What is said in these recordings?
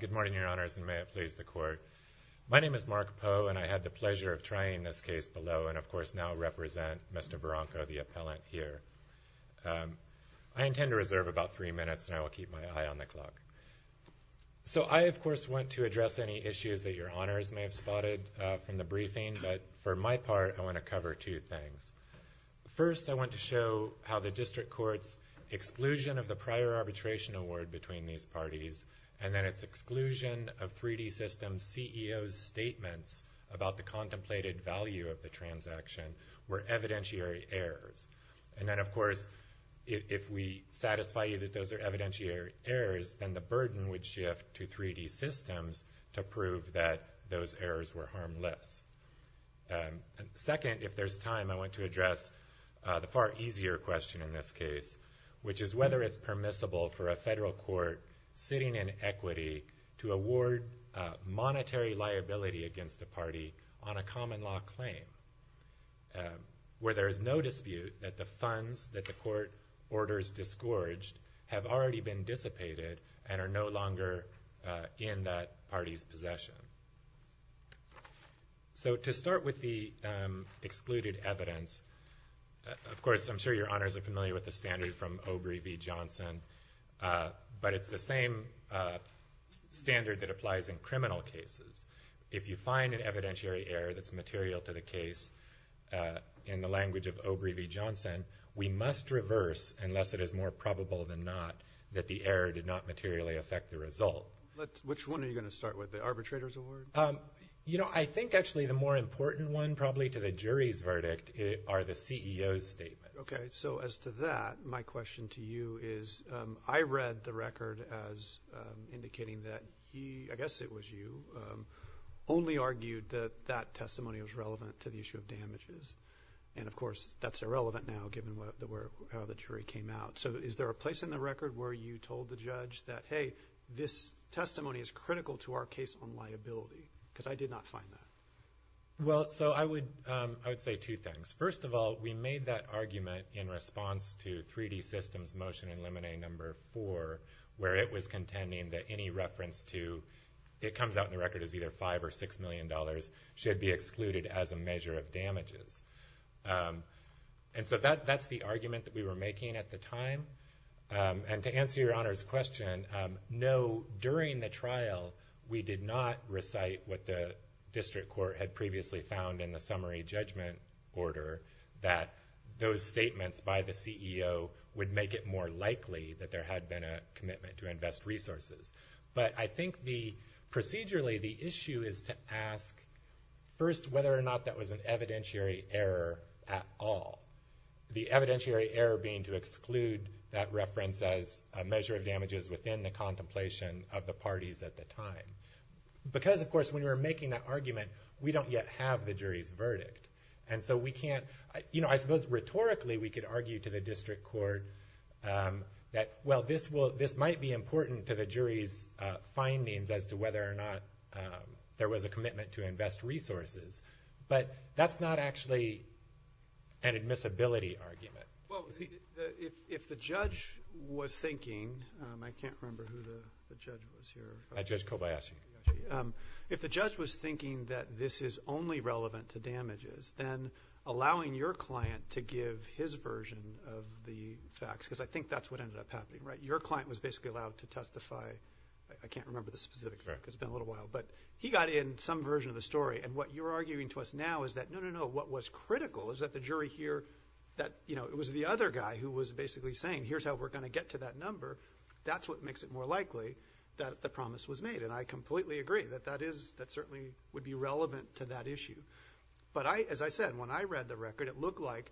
Good morning, Your Honors, and may it please the Court. My name is Mark Poe, and I had the pleasure of trying this case below, and of course now represent Mr. Barranco, the appellant here. I intend to reserve about three minutes, and I will keep my eye on the clock. So I, of course, want to address any issues that Your Honors may have spotted from the briefing, but for my part, I want to cover two things. First, I want to show how the district court's exclusion of the prior arbitration award between these parties, and then its exclusion of 3D Systems CEO's statements about the contemplated value of the transaction were evidentiary errors. And then, of course, if we satisfy you that those are evidentiary errors, then the burden would shift to 3D Systems to prove that those errors were harmless. Second, if there's time, I want to address the far easier question in this case, which is whether it's permissible for a federal court sitting in equity to award monetary liability against a party on a common law claim, where there is no dispute that the funds that the court orders disgorged have already been dissipated and are no longer in that party's possession. So to start with the excluded evidence, of course, I'm sure Your Honors are familiar with the standard from Obrey v. Johnson, but it's the same standard that applies in criminal cases. If you find an evidentiary error that's material to the case in the language of Obrey v. Johnson, we must reverse, unless it is more probable than not, that the error did not materially affect the result. Which one are you going to start with? The arbitrator's award? You know, I think, actually, the more important one, probably, to the jury's verdict are the CEO's statements. Okay. So as to that, my question to you is, I read the record as indicating that he, I guess it was you, only argued that that testimony was relevant to the issue of damages. And of course, that's irrelevant now, given how the jury came out. So is there a place in the record where you told the judge that, hey, this testimony is critical to our case on liability? Because I did not find that. Well, so I would say two things. First of all, we made that argument in response to 3D Systems' motion in Lemonade No. 4, where it was contending that any reference to, it comes out in the record as either $5 And so that's the argument that we were making at the time. And to answer your Honor's question, no, during the trial, we did not recite what the District Court had previously found in the summary judgment order, that those statements by the CEO would make it more likely that there had been a commitment to invest resources. But I think the, procedurally, the issue is to ask, first, whether or not that was an evidentiary error at all. The evidentiary error being to exclude that reference as a measure of damages within the contemplation of the parties at the time. Because of course, when we were making that argument, we don't yet have the jury's verdict. And so we can't, you know, I suppose rhetorically, we could argue to the District Court that, well, this might be important to the jury's findings as to whether or not there was a commitment to invest resources. But that's not actually an admissibility argument. Well, if the judge was thinking, I can't remember who the judge was here. Judge Kobayashi. If the judge was thinking that this is only relevant to damages, then allowing your client to give his version of the facts, because I think that's what ended up happening, right? Your client was basically allowed to testify, I can't remember the specifics, it's been a little while. But he got in some version of the story. And what you're arguing to us now is that, no, no, no, what was critical is that the jury hear that, you know, it was the other guy who was basically saying, here's how we're going to get to that number. That's what makes it more likely that the promise was made. And I completely agree that that is, that certainly would be relevant to that issue. But I, as I said, when I read the record, it looked like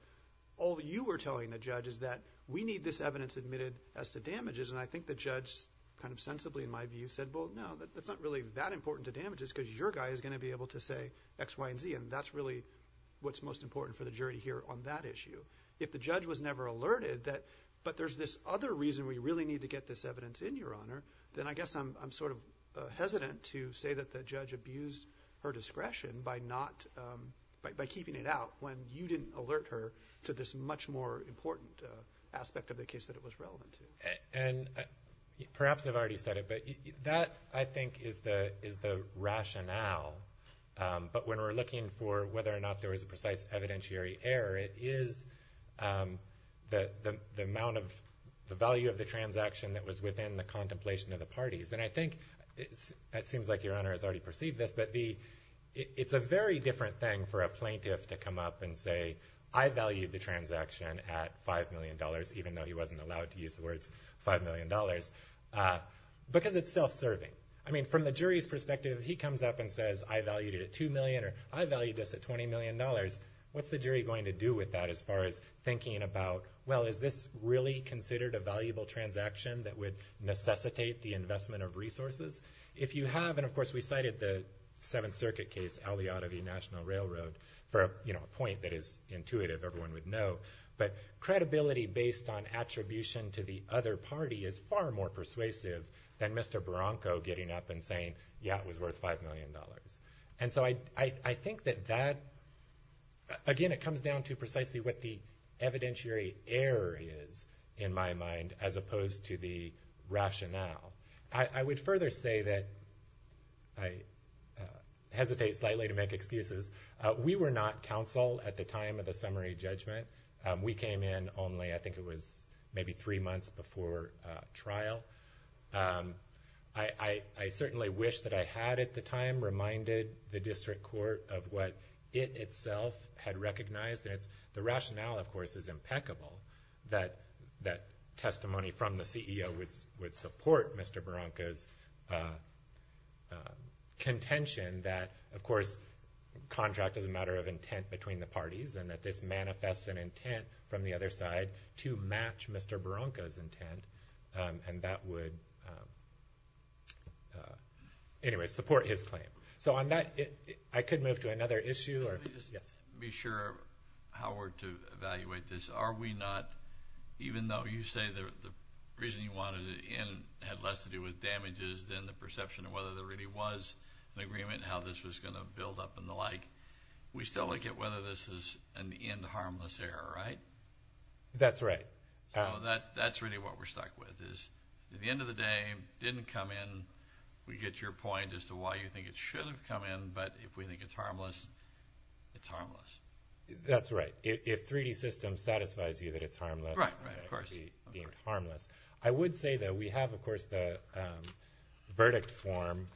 all that you were telling the judge is that we need this evidence admitted as to damages. And I think the judge kind of sensibly in my view said, well, no, that's not really that important to damages because your guy is going to be able to say X, Y, and Z. And that's really what's most important for the jury to hear on that issue. If the judge was never alerted that, but there's this other reason we really need to get this evidence in, Your Honor, then I guess I'm sort of hesitant to say that the judge abused her discretion by not, by keeping it out when you didn't alert her to this much more important aspect of the case that it was relevant to. And perhaps I've already said it, but that I think is the, is the rationale. But when we're looking for whether or not there was a precise evidentiary error, it is the amount of the value of the transaction that was within the contemplation of the parties. And I think it's, it seems like Your Honor has already perceived this, but the, it's a very different thing for a plaintiff to come up and say, I valued the transaction at $5 million, even though he wasn't allowed to use the words $5 million, because it's self-serving. I mean, from the jury's perspective, if he comes up and says, I valued it at $2 million or I valued this at $20 million, what's the jury going to do with that as far as thinking about, well, is this really considered a valuable transaction that would necessitate the investment of resources? If you have, and of course we cited the Seventh Circuit case, Al-Yadavi National Railroad, for a, you know, a point that is intuitive, everyone would know. But credibility based on attribution to the other party is far more persuasive than Mr. Barranco getting up and saying, yeah, it was worth $5 million. And so I, I, I think that that, again, it comes down to precisely what the evidentiary error is, in my mind, as opposed to the rationale. I, I would further say that I hesitate slightly to make excuses. We were not counsel at the time of the summary judgment. We came in only, I think it was maybe three months before trial. I, I, I certainly wish that I had at the time reminded the district court of what it itself had recognized. And it's, the rationale, of course, is impeccable that, that testimony from the CEO would, would support Mr. Barranco's contention that, of course, contract is a matter of intent between the parties, and that this manifests an intent from the other side to match Mr. Barranco's intent. And that would, anyway, support his claim. So on that, I could move to another issue, or, yes. Let me just be sure, Howard, to evaluate this. Are we not, even though you say the, the reason you wanted it in had less to do with damages than the perception of whether there really was an agreement, how this was going to build up and the like, we still look at whether this is an end harmless error, right? That's right. So that, that's really what we're stuck with, is at the end of the day, it didn't come in. We get your point as to why you think it should have come in, but if we think it's harmless, it's harmless. That's right. If, if 3D systems satisfies you that it's harmless, it should be deemed harmless. I would say, though, we have, of course, the verdict form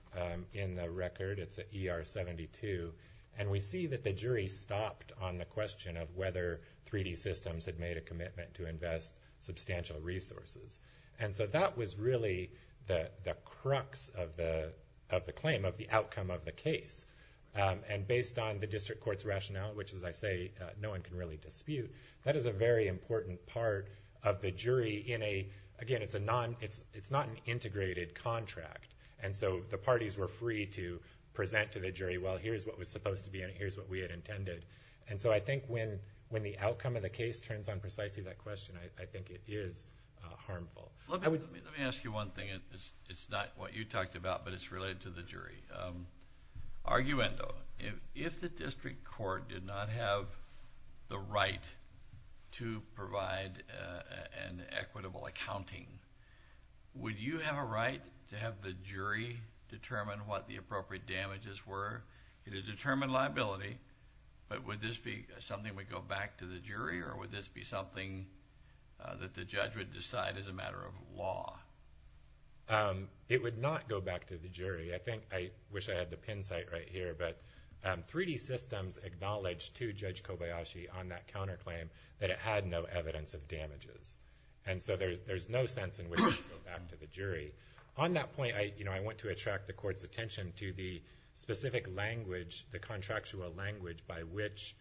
in the record. It's an ER 72. And we see that the jury stopped on the question of whether 3D systems had made a commitment to invest substantial resources. And so that was really the, the crux of the, of the claim, of the outcome of the case. And based on the district court's rationale, which, as I say, no one can really dispute, that is a very important part of the jury in a, again, it's a non, it's, it's not an integrated contract. And so the parties were free to present to the jury, well, here's what was supposed to be in it, here's what we had intended. And so I think when, when the outcome of the case turns on precisely that question, I think it is harmful. Let me, let me ask you one thing, it's, it's not what you talked about, but it's related to the jury. Arguendo, if, if the district court did not have the right to provide an equitable accounting, would you have a right to have the jury determine what the appropriate damages were, you know, determine liability, but would this be something that would go back to the jury, or would this be something that the judge would decide as a matter of law? It would not go back to the jury. I think, I wish I had the pin site right here, but 3D Systems acknowledged to Judge Kobayashi on that counterclaim that it had no evidence of damages. And so there's, there's no sense in which it would go back to the jury. On that point, I, you know, I want to attract the court's attention to the specific language, the contractual language by which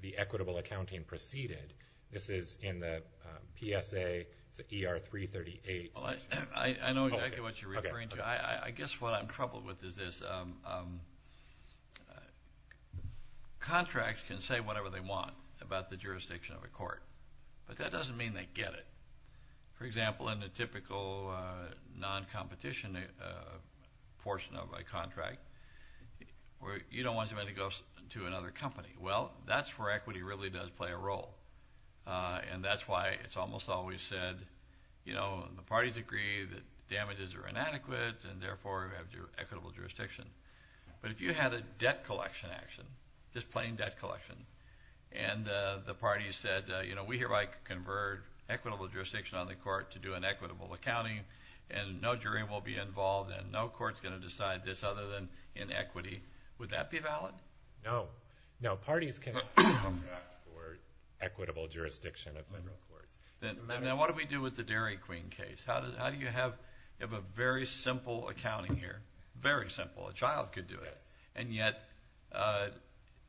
the equitable accounting proceeded. This is in the PSA, it's an ER-338. Well, I, I know exactly what you're referring to. I, I guess what I'm troubled with is this, um, um, contracts can say whatever they want about the jurisdiction of a court, but that doesn't mean they get it. For example, in the typical, uh, non-competition, uh, portion of a contract, where you don't want somebody to go to another company. Well, that's where equity really does play a role, uh, and that's why it's almost always said, you know, the parties agree that damages are inadequate, and therefore, we have equitable jurisdiction. But if you had a debt collection action, just plain debt collection, and, uh, the parties said, uh, you know, we hereby convert equitable jurisdiction on the court to do an equitable accounting, and no jury will be involved, and no court's going to decide this other than inequity, would that be valid? No. No, parties cannot contract for equitable jurisdiction of federal courts. Now, what do we do with the Dairy Queen case? How do, how do you have, you have a very simple accounting here, very simple, a child could do it. Yes. And yet, uh,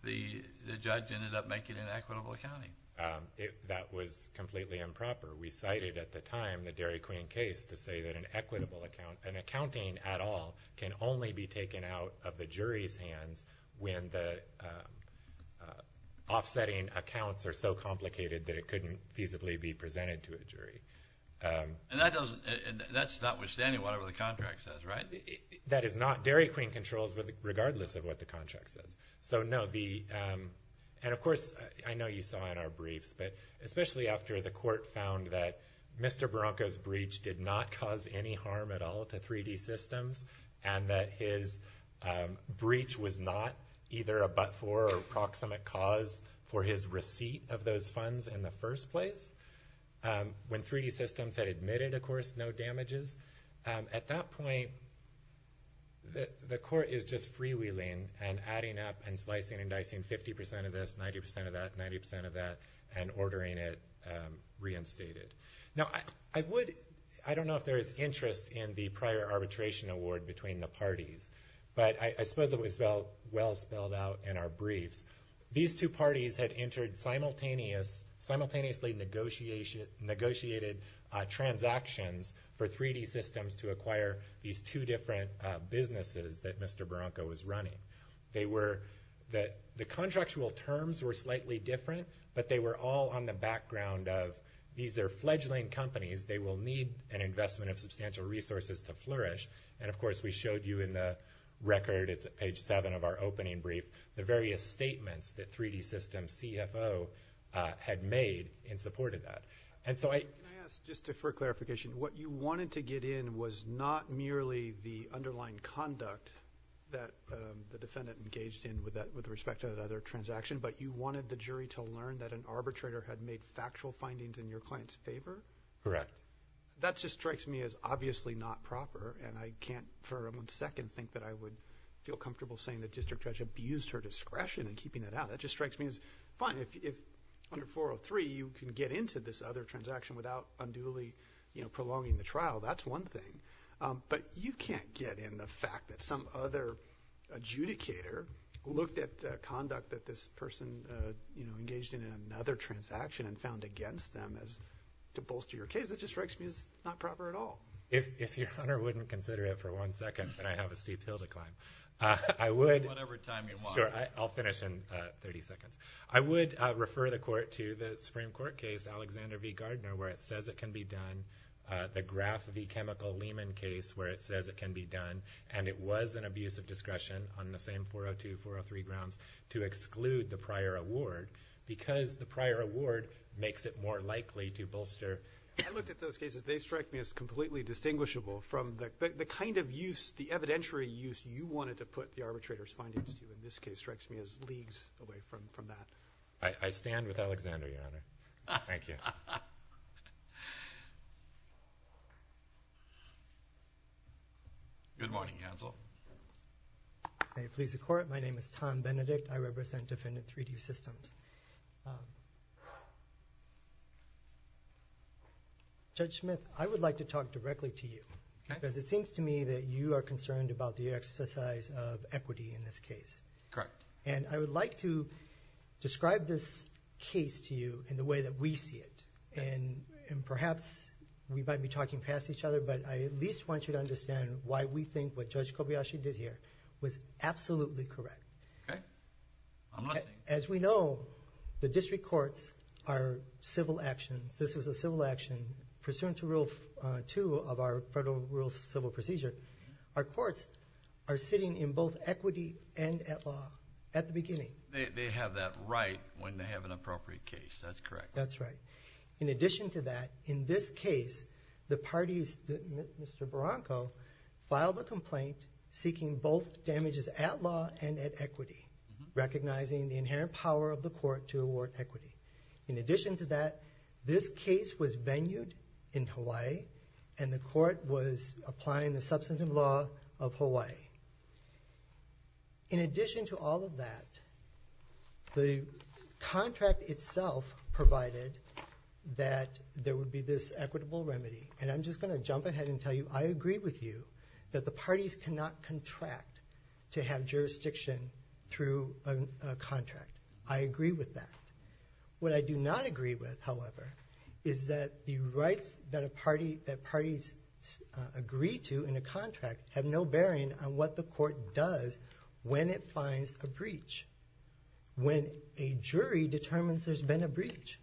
the, the judge ended up making an equitable accounting. Um, it, that was completely improper. We cited at the time the Dairy Queen case to say that an equitable account, an accounting at all, can only be taken out of the jury's hands when the, um, uh, offsetting accounts are so complicated that it couldn't feasibly be presented to a jury. Um. And that doesn't, and that's notwithstanding whatever the contract says, right? That is not, Dairy Queen controls regardless of what the contract says. So no, the, um, and of course, I know you saw in our briefs, but especially after the court found that Mr. Baranca's breach did not cause any harm at all to 3D Systems, and that his, um, breach was not either a but-for or proximate cause for his receipt of those funds in the first place, um, when 3D Systems had admitted, of course, no damages, um, at that point, the, the court is just freewheeling and adding up and slicing and dicing 50 percent of this, 90 percent of that, 90 percent of that, and ordering it, um, reinstated. Now, I, I would, I don't know if there is interest in the prior arbitration award between the parties, but I, I suppose it was well, well spelled out in our briefs. These two parties had entered simultaneous, simultaneously negotiated, uh, transactions for 3D Systems to acquire these two different, uh, businesses that Mr. Baranca was running. They were, the, the contractual terms were slightly different, but they were all on the background of, these are fledgling companies, they will need an investment of substantial resources to flourish, and of course, we showed you in the record, it's at page seven of our opening brief, the various statements that 3D Systems CFO, uh, had made in support of that. And so I... Can I ask, just for clarification, what you wanted to get in was not merely the underlying conduct that, um, the defendant engaged in with that, with respect to that other transaction, but you wanted the jury to learn that an arbitrator had made factual findings in your client's favor? Correct. That just strikes me as obviously not proper, and I can't for a second think that I would feel comfortable saying that District Judge abused her discretion in keeping it out. That just strikes me as fine, if, if under 403, you can get into this other transaction without unduly, you know, prolonging the trial, that's one thing. Um, but you can't get in the fact that some other adjudicator looked at the conduct that this person, uh, you know, engaged in another transaction and found against them as, to me, that just strikes me as not proper at all. If, if your Honor wouldn't consider it for one second, then I have a steep hill to climb. Uh, I would... Take whatever time you want. Sure. I, I'll finish in, uh, 30 seconds. I would, uh, refer the Court to the Supreme Court case, Alexander v. Gardner, where it says it can be done, uh, the Graf v. Chemical-Lehman case, where it says it can be done. And it was an abuse of discretion on the same 402, 403 grounds to exclude the prior award because the prior award makes it more likely to bolster... I looked at those cases. They strike me as completely distinguishable from the, the kind of use, the evidentiary use you wanted to put the arbitrator's findings to, in this case, strikes me as leagues away from, from that. I, I stand with Alexander, Your Honor. Thank you. Good morning, counsel. May it please the Court. My name is Tom Benedict. I represent Defendant 3D Systems. Um... Judge Smith, I would like to talk directly to you... Okay.... because it seems to me that you are concerned about the exercise of equity in this case. Correct. And I would like to describe this case to you in the way that we see it... Okay.... and, and perhaps we might be talking past each other, but I at least want you to understand why we think what Judge Kobayashi did here was absolutely correct. Okay. I'm listening. As we know, the district courts are civil actions. This was a civil action pursuant to Rule 2 of our Federal Rules of Civil Procedure. Our courts are sitting in both equity and at law at the beginning. They, they have that right when they have an appropriate case. That's correct. That's right. In addition to that, in this case, the parties, Mr. Barranco, filed a complaint seeking both inherent power of the court to award equity. In addition to that, this case was venued in Hawaii, and the court was applying the substantive law of Hawaii. In addition to all of that, the contract itself provided that there would be this equitable remedy. And I'm just going to jump ahead and tell you I agree with you that the parties cannot contract to have jurisdiction through a contract. I agree with that. What I do not agree with, however, is that the rights that a party, that parties agree to in a contract have no bearing on what the court does when it finds a breach, when a jury determines there's been a breach.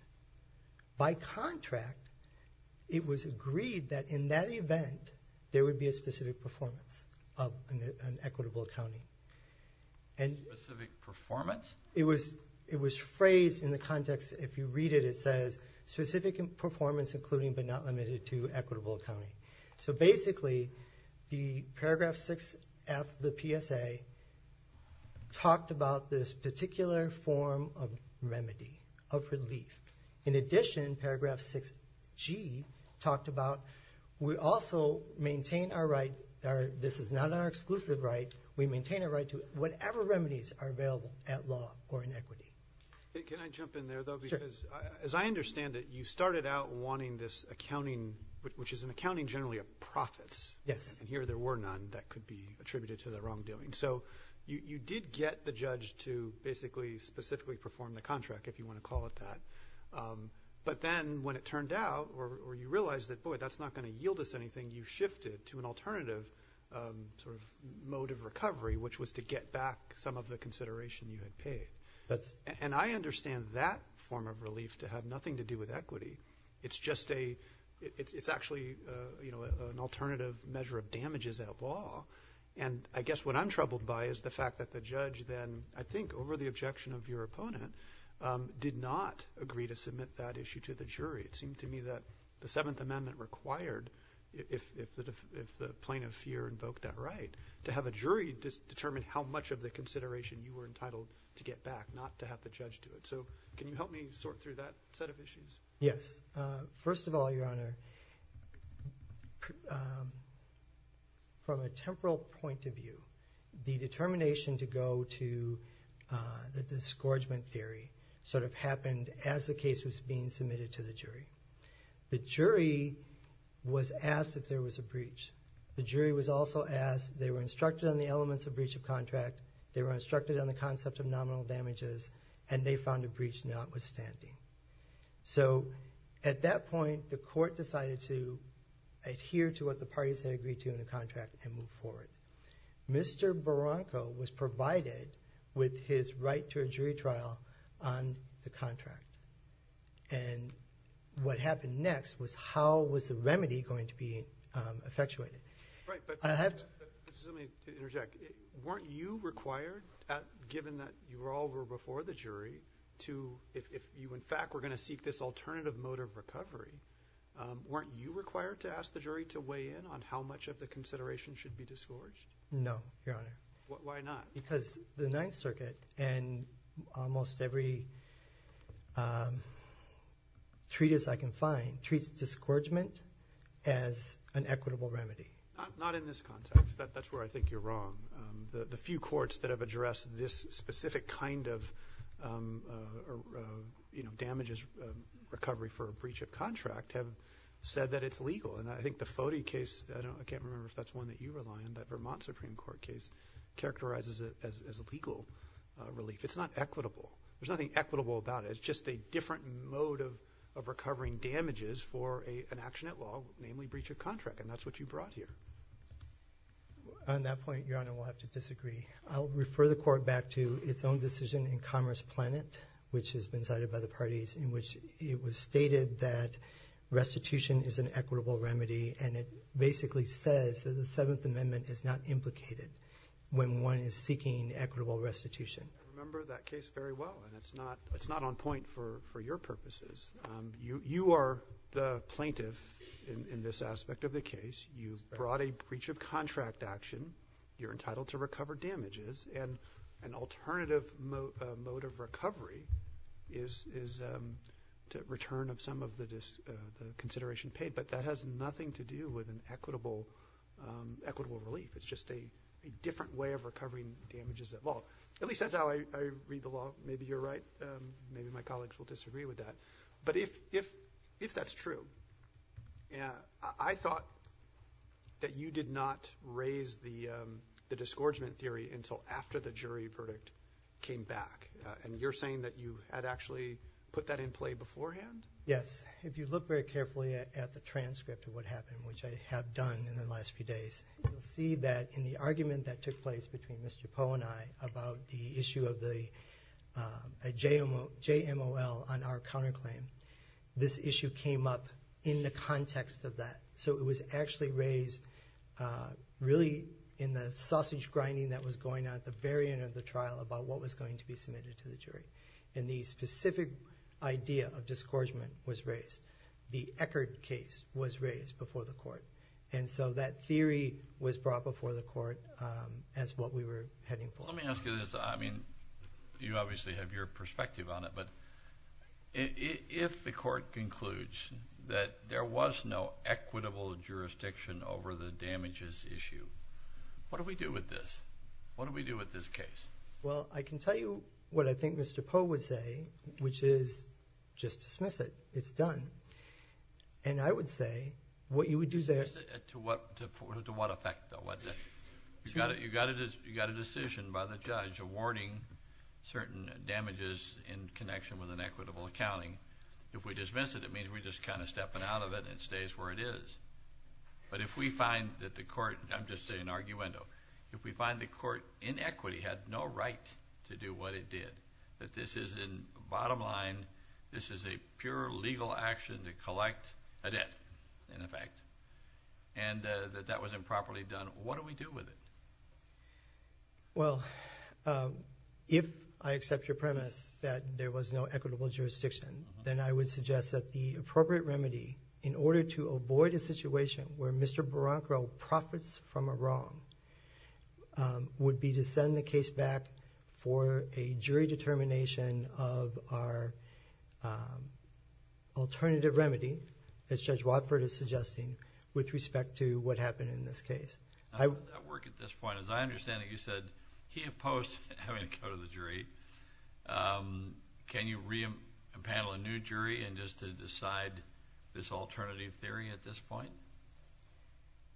By contract, it was agreed that in that event, there would be a specific performance of an equitable accounting. Specific performance? It was, it was phrased in the context, if you read it, it says specific performance including but not limited to equitable accounting. So basically, the paragraph 6F of the PSA talked about this particular form of remedy, of relief. In addition, paragraph 6G talked about, we also maintain our right, this is not our exclusive right, we maintain a right to whatever remedies are available at law or in equity. Can I jump in there though, because as I understand it, you started out wanting this accounting, which is an accounting generally of profits. Yes. And here there were none that could be attributed to the wrongdoing. So you did get the judge to basically specifically perform the contract, if you want to call it that. But then when it turned out, or you realized that boy, that's not going to yield us anything, you shifted to an alternative sort of mode of recovery, which was to get back some of the consideration you had paid. And I understand that form of relief to have nothing to do with equity. It's just a, it's actually, you know, an alternative measure of damages at law. And I guess what I'm troubled by is the fact that the judge then, I think over the objection of your opponent, did not agree to submit that issue to the jury. It seemed to me that the Seventh Amendment required, if the plaintiff here invoked that right, to have a jury determine how much of the consideration you were entitled to get back, not to have the judge do it. So can you help me sort through that set of issues? Yes. First of all, Your Honor, from a temporal point of view, the determination to go to the disgorgement theory sort of happened as the case was being submitted to the jury. The jury was asked if there was a breach. The jury was also asked, they were instructed on the elements of breach of contract, they were instructed on the concept of nominal damages, and they found a breach notwithstanding. So, at that point, the court decided to adhere to what the parties had agreed to in the contract and move forward. Mr. Barranco was provided with his right to a jury trial on the contract. And what happened next was how was the remedy going to be effectuated. Right, but I have to, just let me interject. Weren't you required, given that you all were before the jury, to, if you in fact were going to seek this alternative mode of recovery, weren't you required to ask the jury to weigh in on how much of the consideration should be disgorged? No, Your Honor. Why not? Because the Ninth Circuit, and almost every treatise I can find, treats disgorgement as an equitable remedy. Not in this context. That's where I think you're wrong. The few courts that have addressed this specific kind of damages recovery for a breach of contract have said that it's legal. And I think the Foti case, I can't remember if that's one that you rely on, that Vermont Supreme Court case, characterizes it as legal relief. It's not equitable. There's nothing equitable about it. It's just a different mode of recovering damages for an action at law, namely breach of contract. And that's what you brought here. On that point, Your Honor, we'll have to disagree. I'll refer the Court back to its own decision in Commerce Planet, which has been cited by the parties, in which it was stated that restitution is an equitable remedy. And it basically says that the Seventh Amendment is not implicated when one is seeking equitable restitution. I remember that case very well, and it's not on point for your purposes. You are the plaintiff in this aspect of the case. You brought a breach of contract action. You're entitled to recover damages, and an alternative mode of recovery is to return of some of the consideration paid. But that has nothing to do with an equitable relief. It's just a different way of recovering damages at law. At least that's how I read the law. Maybe you're right. Maybe my colleagues will disagree with that. But if that's true, I thought that you did not raise the disgorgement theory until after the jury verdict came back. And you're saying that you had actually put that in play beforehand? Yes. If you look very carefully at the transcript of what happened, which I have done in the last few days, you'll see that in the argument that took place between Mr. Poe and I about the issue of the JMOL on our counterclaim, this issue came up in the context of that. So it was actually raised really in the sausage grinding that was going on at the very end of the trial about what was going to be submitted to the jury. And the specific idea of disgorgement was raised. The Eckerd case was raised before the court. And so that theory was brought before the court as what we were heading for. Well, let me ask you this. I mean, you obviously have your perspective on it, but if the court concludes that there was no equitable jurisdiction over the damages issue, what do we do with this? What do we do with this case? Well, I can tell you what I think Mr. Poe would say, which is just dismiss it. It's done. And I would say what you would do there— To what effect, though? You've got a decision by the judge awarding certain damages in connection with an equitable accounting. If we dismiss it, it means we're just kind of stepping out of it and it stays where it is. But if we find that the court—I'm just saying an arguendo—if we find the court in equity had no right to do what it did, that this is in bottom line, this is a pure legal action to collect a debt, in effect, and that that was improperly done. What do we do with it? Well, if I accept your premise that there was no equitable jurisdiction, then I would suggest that the appropriate remedy, in order to avoid a situation where Mr. Barrancaro profits from a wrong, would be to send the case back for a jury determination of our alternative remedy, as Judge Watford is suggesting, with respect to what happened in this case. How would that work at this point? As I understand it, you said he opposed having to go to the jury. Can you re-impanel a new jury just to decide this alternative theory at this point?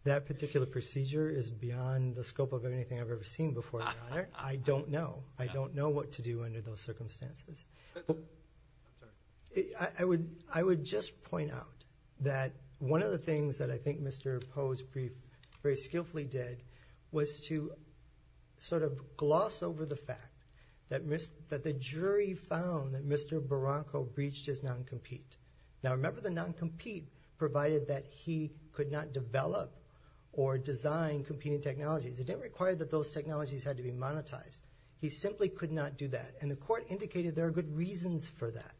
That particular procedure is beyond the scope of anything I've ever seen before, Your Honor. I don't know. I don't know what to do under those circumstances. I would just point out that one of the things that I think Mr. Poe's brief very skillfully did was to sort of gloss over the fact that the jury found that Mr. Barrancaro breached his non-compete. Now, remember the non-compete provided that he could not develop or design competing technologies. It didn't require that those technologies had to be monetized. He simply could not do that. And the court indicated there are good reasons for that.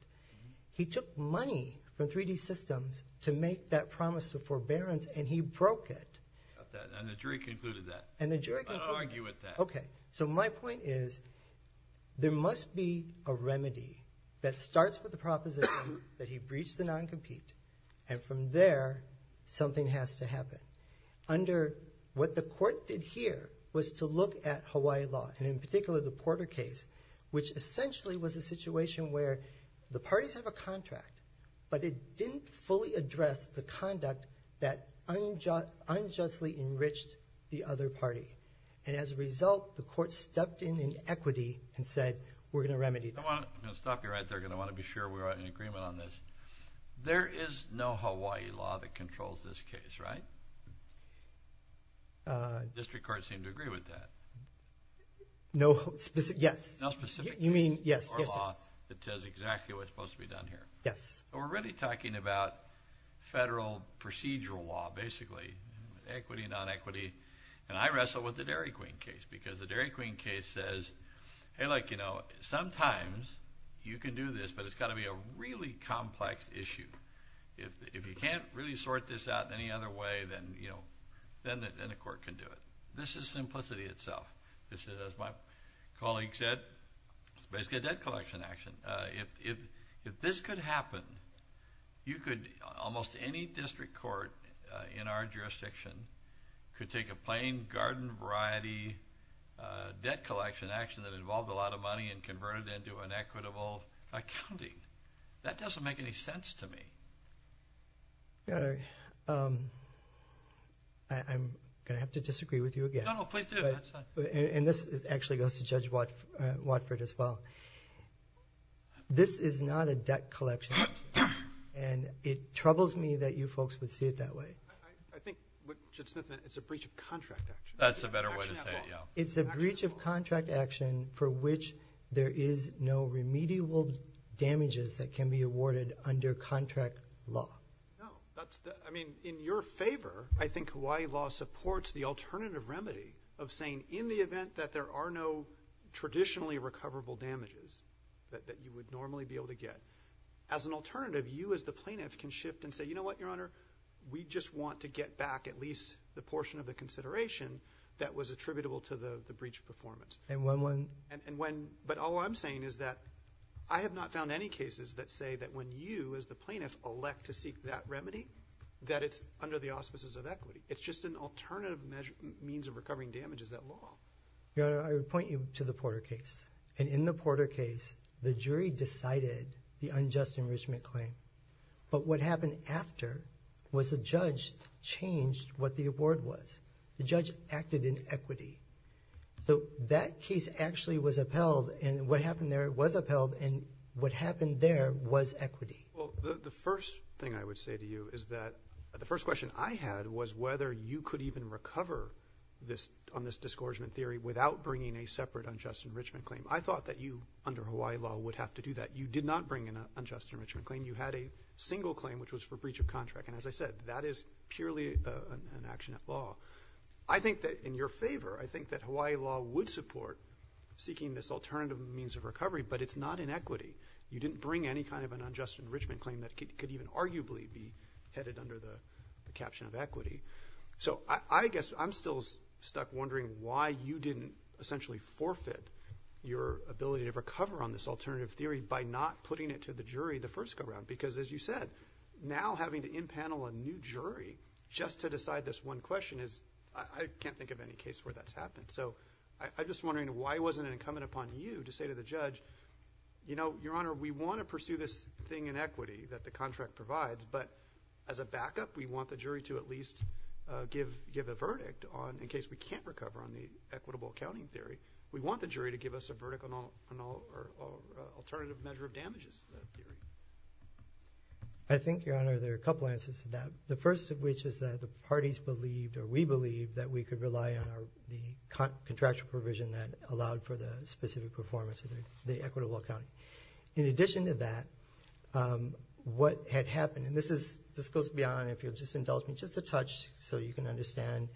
He took money from 3D Systems to make that promise of forbearance, and he broke it. And the jury concluded that. And the jury concluded that. I don't argue with that. Okay. So my point is there must be a remedy that starts with the proposition that he breached the non-compete, and from there, something has to happen. Under what the court did here was to look at Hawaii law, and in particular the Porter case, which essentially was a situation where the parties have a contract, but it didn't fully address the conduct that unjustly enriched the other party. And as a result, the court stepped in in equity and said, we're going to remedy that. I'm going to stop you right there, because I want to be sure we're in agreement on this. There is no Hawaii law that controls this case, right? District courts seem to agree with that. No specific... Yes. No specific case or law that says exactly what's supposed to be done here. Yes. We're really talking about federal procedural law, basically, equity, non-equity. And I wrestle with the Dairy Queen case, because the Dairy Queen case says, hey, like, you know, sometimes you can do this, but it's got to be a really complex issue. If you can't really sort this out any other way, then, you know, then the court can do it. This is simplicity itself. This is, as my colleague said, it's basically a debt collection action. If this could happen, you could, almost any district court in our jurisdiction, could take a plain garden variety debt collection action that involved a lot of money and convert it into an equitable accounting. That doesn't make any sense to me. I'm going to have to disagree with you again. No, no. Please do. That's fine. And this actually goes to Judge Watford as well. This is not a debt collection action, and it troubles me that you folks would see it that way. I think, Judge Smith, it's a breach of contract action. That's a better way to say it, yeah. under contract law. No. I mean, in your favor, I think Hawaii law supports the alternative remedy of saying in the event that there are no traditionally recoverable damages that you would normally be able to get. As an alternative, you as the plaintiff can shift and say, you know what, Your Honor, we just want to get back at least the portion of the consideration that was attributable to the breach of performance. And when? But all I'm saying is that I have not found any cases that say that when you as the plaintiff elect to seek that remedy, that it's under the auspices of equity. It's just an alternative means of recovering damages that law. Your Honor, I would point you to the Porter case. And in the Porter case, the jury decided the unjust enrichment claim. But what happened after was the judge changed what the award was. The judge acted in equity. So that case actually was upheld, and what happened there was upheld, and what happened there was equity. Well, the first thing I would say to you is that the first question I had was whether you could even recover on this disgorgement theory without bringing a separate unjust enrichment claim. I thought that you, under Hawaii law, would have to do that. You did not bring an unjust enrichment claim. You had a single claim, which was for breach of contract. And as I said, that is purely an action at law. I think that in your favor, I think that Hawaii law would support seeking this alternative means of recovery, but it's not in equity. You didn't bring any kind of an unjust enrichment claim that could even arguably be headed under the caption of equity. So I guess I'm still stuck wondering why you didn't essentially forfeit your ability to recover on this alternative theory by not putting it to the jury the first go-round. Because as you said, now having to impanel a new jury just to decide this one question I can't think of any case where that's happened. So I'm just wondering why wasn't it incumbent upon you to say to the judge, you know, Your Honor, we want to pursue this thing in equity that the contract provides, but as a backup, we want the jury to at least give a verdict in case we can't recover on the equitable accounting theory. We want the jury to give us a verdict on alternative measure of damages theory. I think, Your Honor, there are a couple answers to that. The first of which is that the parties believed or we believed that we could rely on the contractual provision that allowed for the specific performance of the equitable accounting. In addition to that, what had happened, and this goes beyond, if you'll just indulge me just a touch so you can understand,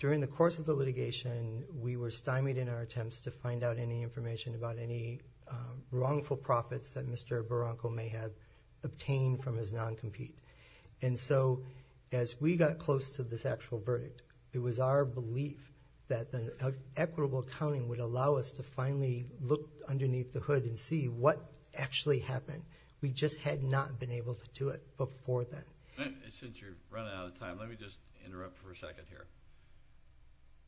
during the course of the litigation, we were stymied in our attempts to find out any information about any wrongful profits that Mr. Barranco may have obtained from his non-compete. And so as we got close to this actual verdict, it was our belief that the equitable accounting would allow us to finally look underneath the hood and see what actually happened. We just had not been able to do it before then. Since you're running out of time, let me just interrupt for a second here.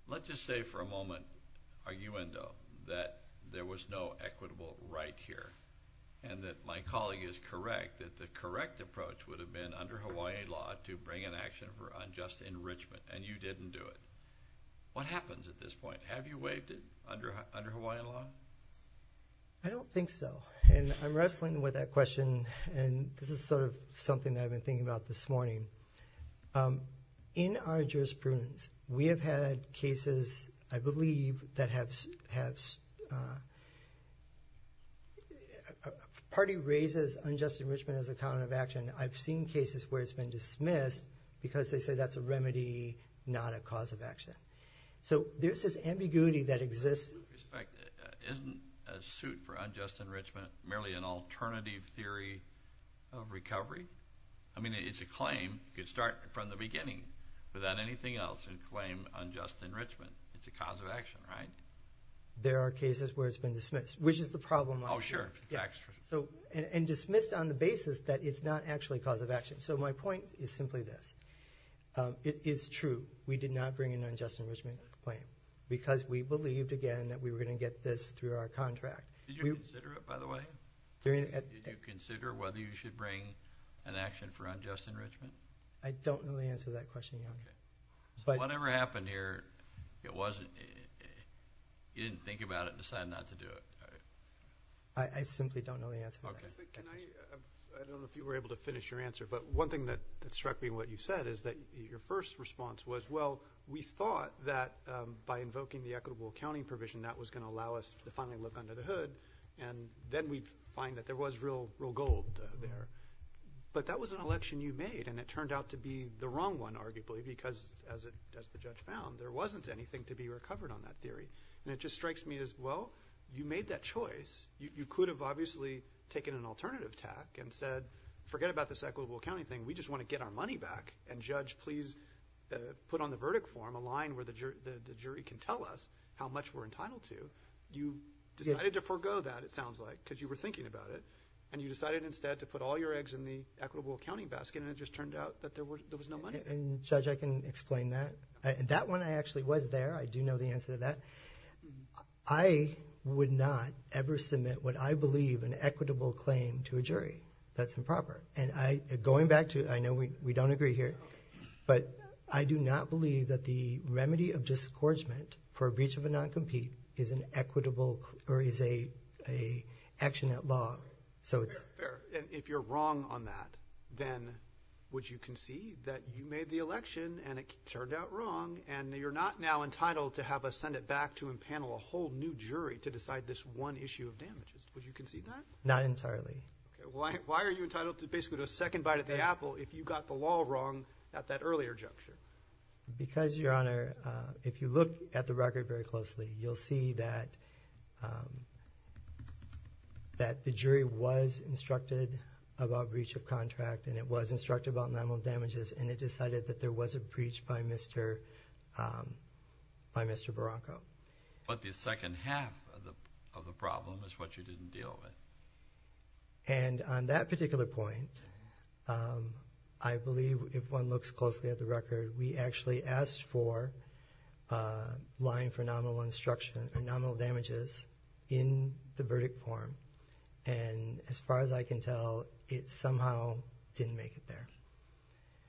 Let's just say for a moment, arguendo, that there was no equitable right here and that my colleague is correct, that the correct approach would have been under Hawaiian law to bring an action for unjust enrichment and you didn't do it. What happens at this point? Have you waived it under Hawaiian law? I don't think so. And I'm wrestling with that question and this is sort of something that I've been thinking about this morning. In our jurisprudence, we have had cases, I believe, that have, a party raises unjust enrichment as a count of action. I've seen cases where it's been dismissed because they say that's a remedy, not a cause of action. So there's this ambiguity that exists. Isn't a suit for unjust enrichment merely an alternative theory of recovery? I mean, it's a claim. You could start from the beginning without anything else and claim unjust enrichment. It's a cause of action, right? There are cases where it's been dismissed, which is the problem. Oh, sure. Tax-free. And dismissed on the basis that it's not actually a cause of action. So my point is simply this. It's true. We did not bring an unjust enrichment claim because we believed, again, that we were going to get this through our contract. Did you consider it, by the way? Did you consider whether you should bring an action for unjust enrichment? I don't know the answer to that question, Your Honor. So whatever happened here, you didn't think about it and decide not to do it, right? I simply don't know the answer to that. Okay. I don't know if you were able to finish your answer, but one thing that struck me in what you said is that your first response was, well, we thought that by invoking the equitable accounting provision, that was going to allow us to finally look under the hood, and then we'd find that there was real gold there. But that was an election you made, and it turned out to be the wrong one, arguably, because as the judge found, there wasn't anything to be recovered on that theory. And it just strikes me as, well, you made that choice. You could have obviously taken an alternative tack and said, forget about this equitable accounting thing. We just want to get our money back. And judge, please put on the verdict form a line where the jury can tell us how much we're entitled to. You decided to forego that, it sounds like, because you were thinking about it, and you decided instead to put all your eggs in the equitable accounting basket, and it just turned out that there was no money there. And judge, I can explain that. And that one, I actually was there. I do know the answer to that. I would not ever submit what I believe an equitable claim to a jury. That's improper. And going back to, I know we don't agree here, but I do not believe that the remedy of discouragement for a breach of a non-compete is an equitable, or is a action at law. So it's... Fair. And if you're wrong on that, then would you concede that you made the election and it turned out wrong, and you're not now entitled to have us send it back to a panel, a whole new jury, to decide this one issue of damages? Would you concede that? Not entirely. Okay. Why are you entitled to basically a second bite at the apple if you got the law wrong at that earlier juncture? Because, Your Honor, if you look at the record very closely, you'll see that the jury was instructed about breach of contract, and it was instructed about non-mobile damages, and it decided that there was a breach by Mr. Barranco. But the second half of the problem is what you didn't deal with. And on that particular point, I believe, if one looks closely at the record, we actually asked for a line for nominal damages in the verdict form, and as far as I can tell, it somehow didn't make it there.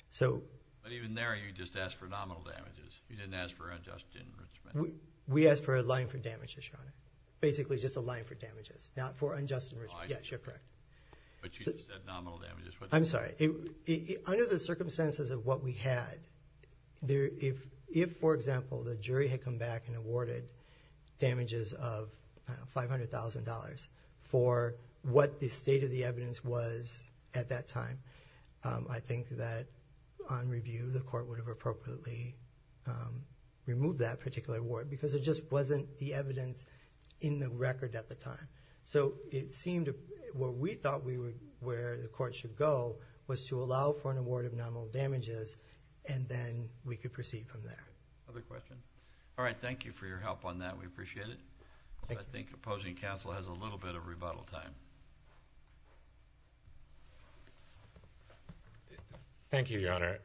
So... But even there, you just asked for nominal damages. You didn't ask for unjust enrichment. We asked for a line for damages, Your Honor. Basically, just a line for damages, not for unjust enrichment. Oh, I see. Yeah, you're correct. But you said nominal damages. I'm sorry. Under the circumstances of what we had, if, for example, the jury had come back and awarded damages of $500,000 for what the state of the evidence was at that time, I think that on review, the Court would have appropriately removed that particular award, because it just wasn't the evidence in the record at the time. So it seemed where we thought the Court should go was to allow for an award of nominal damages, and then we could proceed from there. Other questions? All right. Thank you for your help on that. We appreciate it. Thank you. I think opposing counsel has a little bit of rebuttal time. Thank you, Your Honor.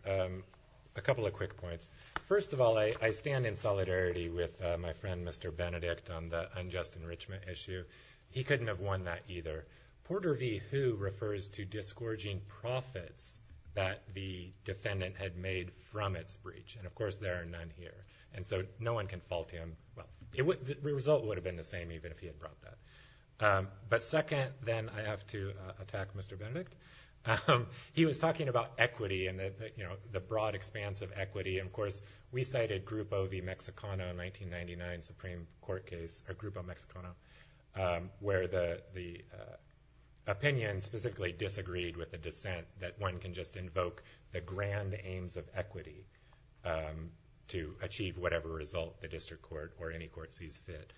A couple of quick points. First of all, I stand in solidarity with my friend, Mr. Benedict, on the unjust enrichment issue. He couldn't have won that either. Porter v. Hu refers to disgorging profits that the defendant had made from its breach. And of course, there are none here. And so no one can fault him. Well, the result would have been the same even if he had brought that. But second, then, I have to attack Mr. Benedict. He was talking about equity and the broad expanse of equity. And of course, we cited Grupo v. Mexicano in the 1999 Supreme Court case, or Grupo Mexicano, where the opinion specifically disagreed with the dissent that one can just invoke the grand aims of equity to achieve whatever result the district court or any court sees fit.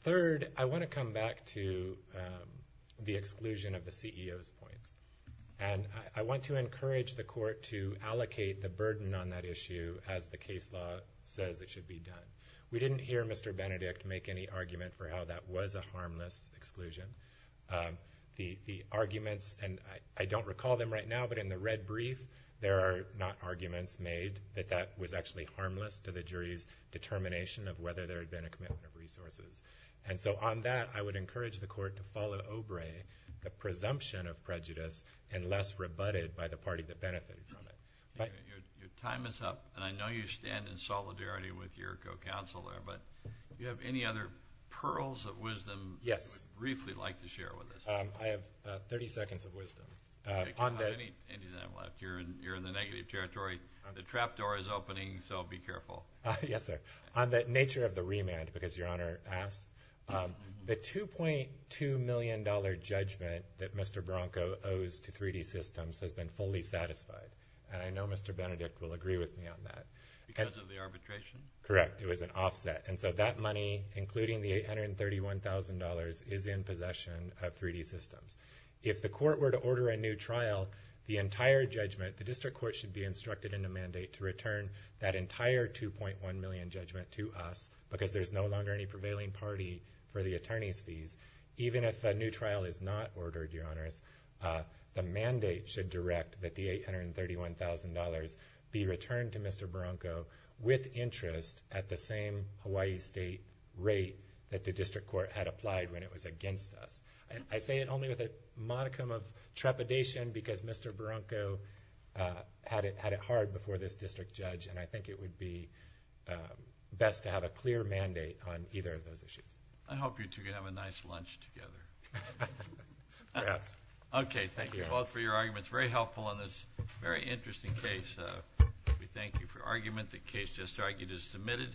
Third, I want to come back to the exclusion of the CEO's points. And I want to encourage the court to allocate the burden on that issue as the case law says it should be done. We didn't hear Mr. Benedict make any argument for how that was a harmless exclusion. The arguments, and I don't recall them right now, but in the red brief, there are not arguments made that that was actually harmless to the jury's determination of whether there had been a commitment of resources. And so on that, I would encourage the court to follow Obrey, the presumption of prejudice, and less rebutted by the party that benefited from it. Your time is up, and I know you stand in solidarity with your co-counsel there. But do you have any other pearls of wisdom you would briefly like to share with us? Yes. I have 30 seconds of wisdom. I don't have any of them left. You're in the negative territory. The trapdoor is opening, so be careful. Yes, sir. On the nature of the remand, because Your Honor asked, the $2.2 million judgment that Mr. Branco owes to 3D Systems has been fully satisfied. And I know Mr. Benedict will agree with me on that. Because of the arbitration? Correct. It was an offset. And so that money, including the $831,000, is in possession of 3D Systems. If the court were to order a new trial, it would be in possession of 3D Systems. entire judgment, the district court should be instructed in the mandate to return that entire $2.1 million judgment to us, because there's no longer any prevailing party for the attorney's fees. Even if a new trial is not ordered, Your Honors, the mandate should direct that the $831,000 be returned to Mr. Branco with interest at the same Hawaii State rate that the district court had applied when it was against us. I say it only with a modicum of trepidation, because Mr. Branco had it hard before this district judge, and I think it would be best to have a clear mandate on either of those issues. I hope you two can have a nice lunch together. Perhaps. Okay. Thank you both for your arguments. Very helpful on this very interesting case. We thank you for your argument. The case just argued is submitted.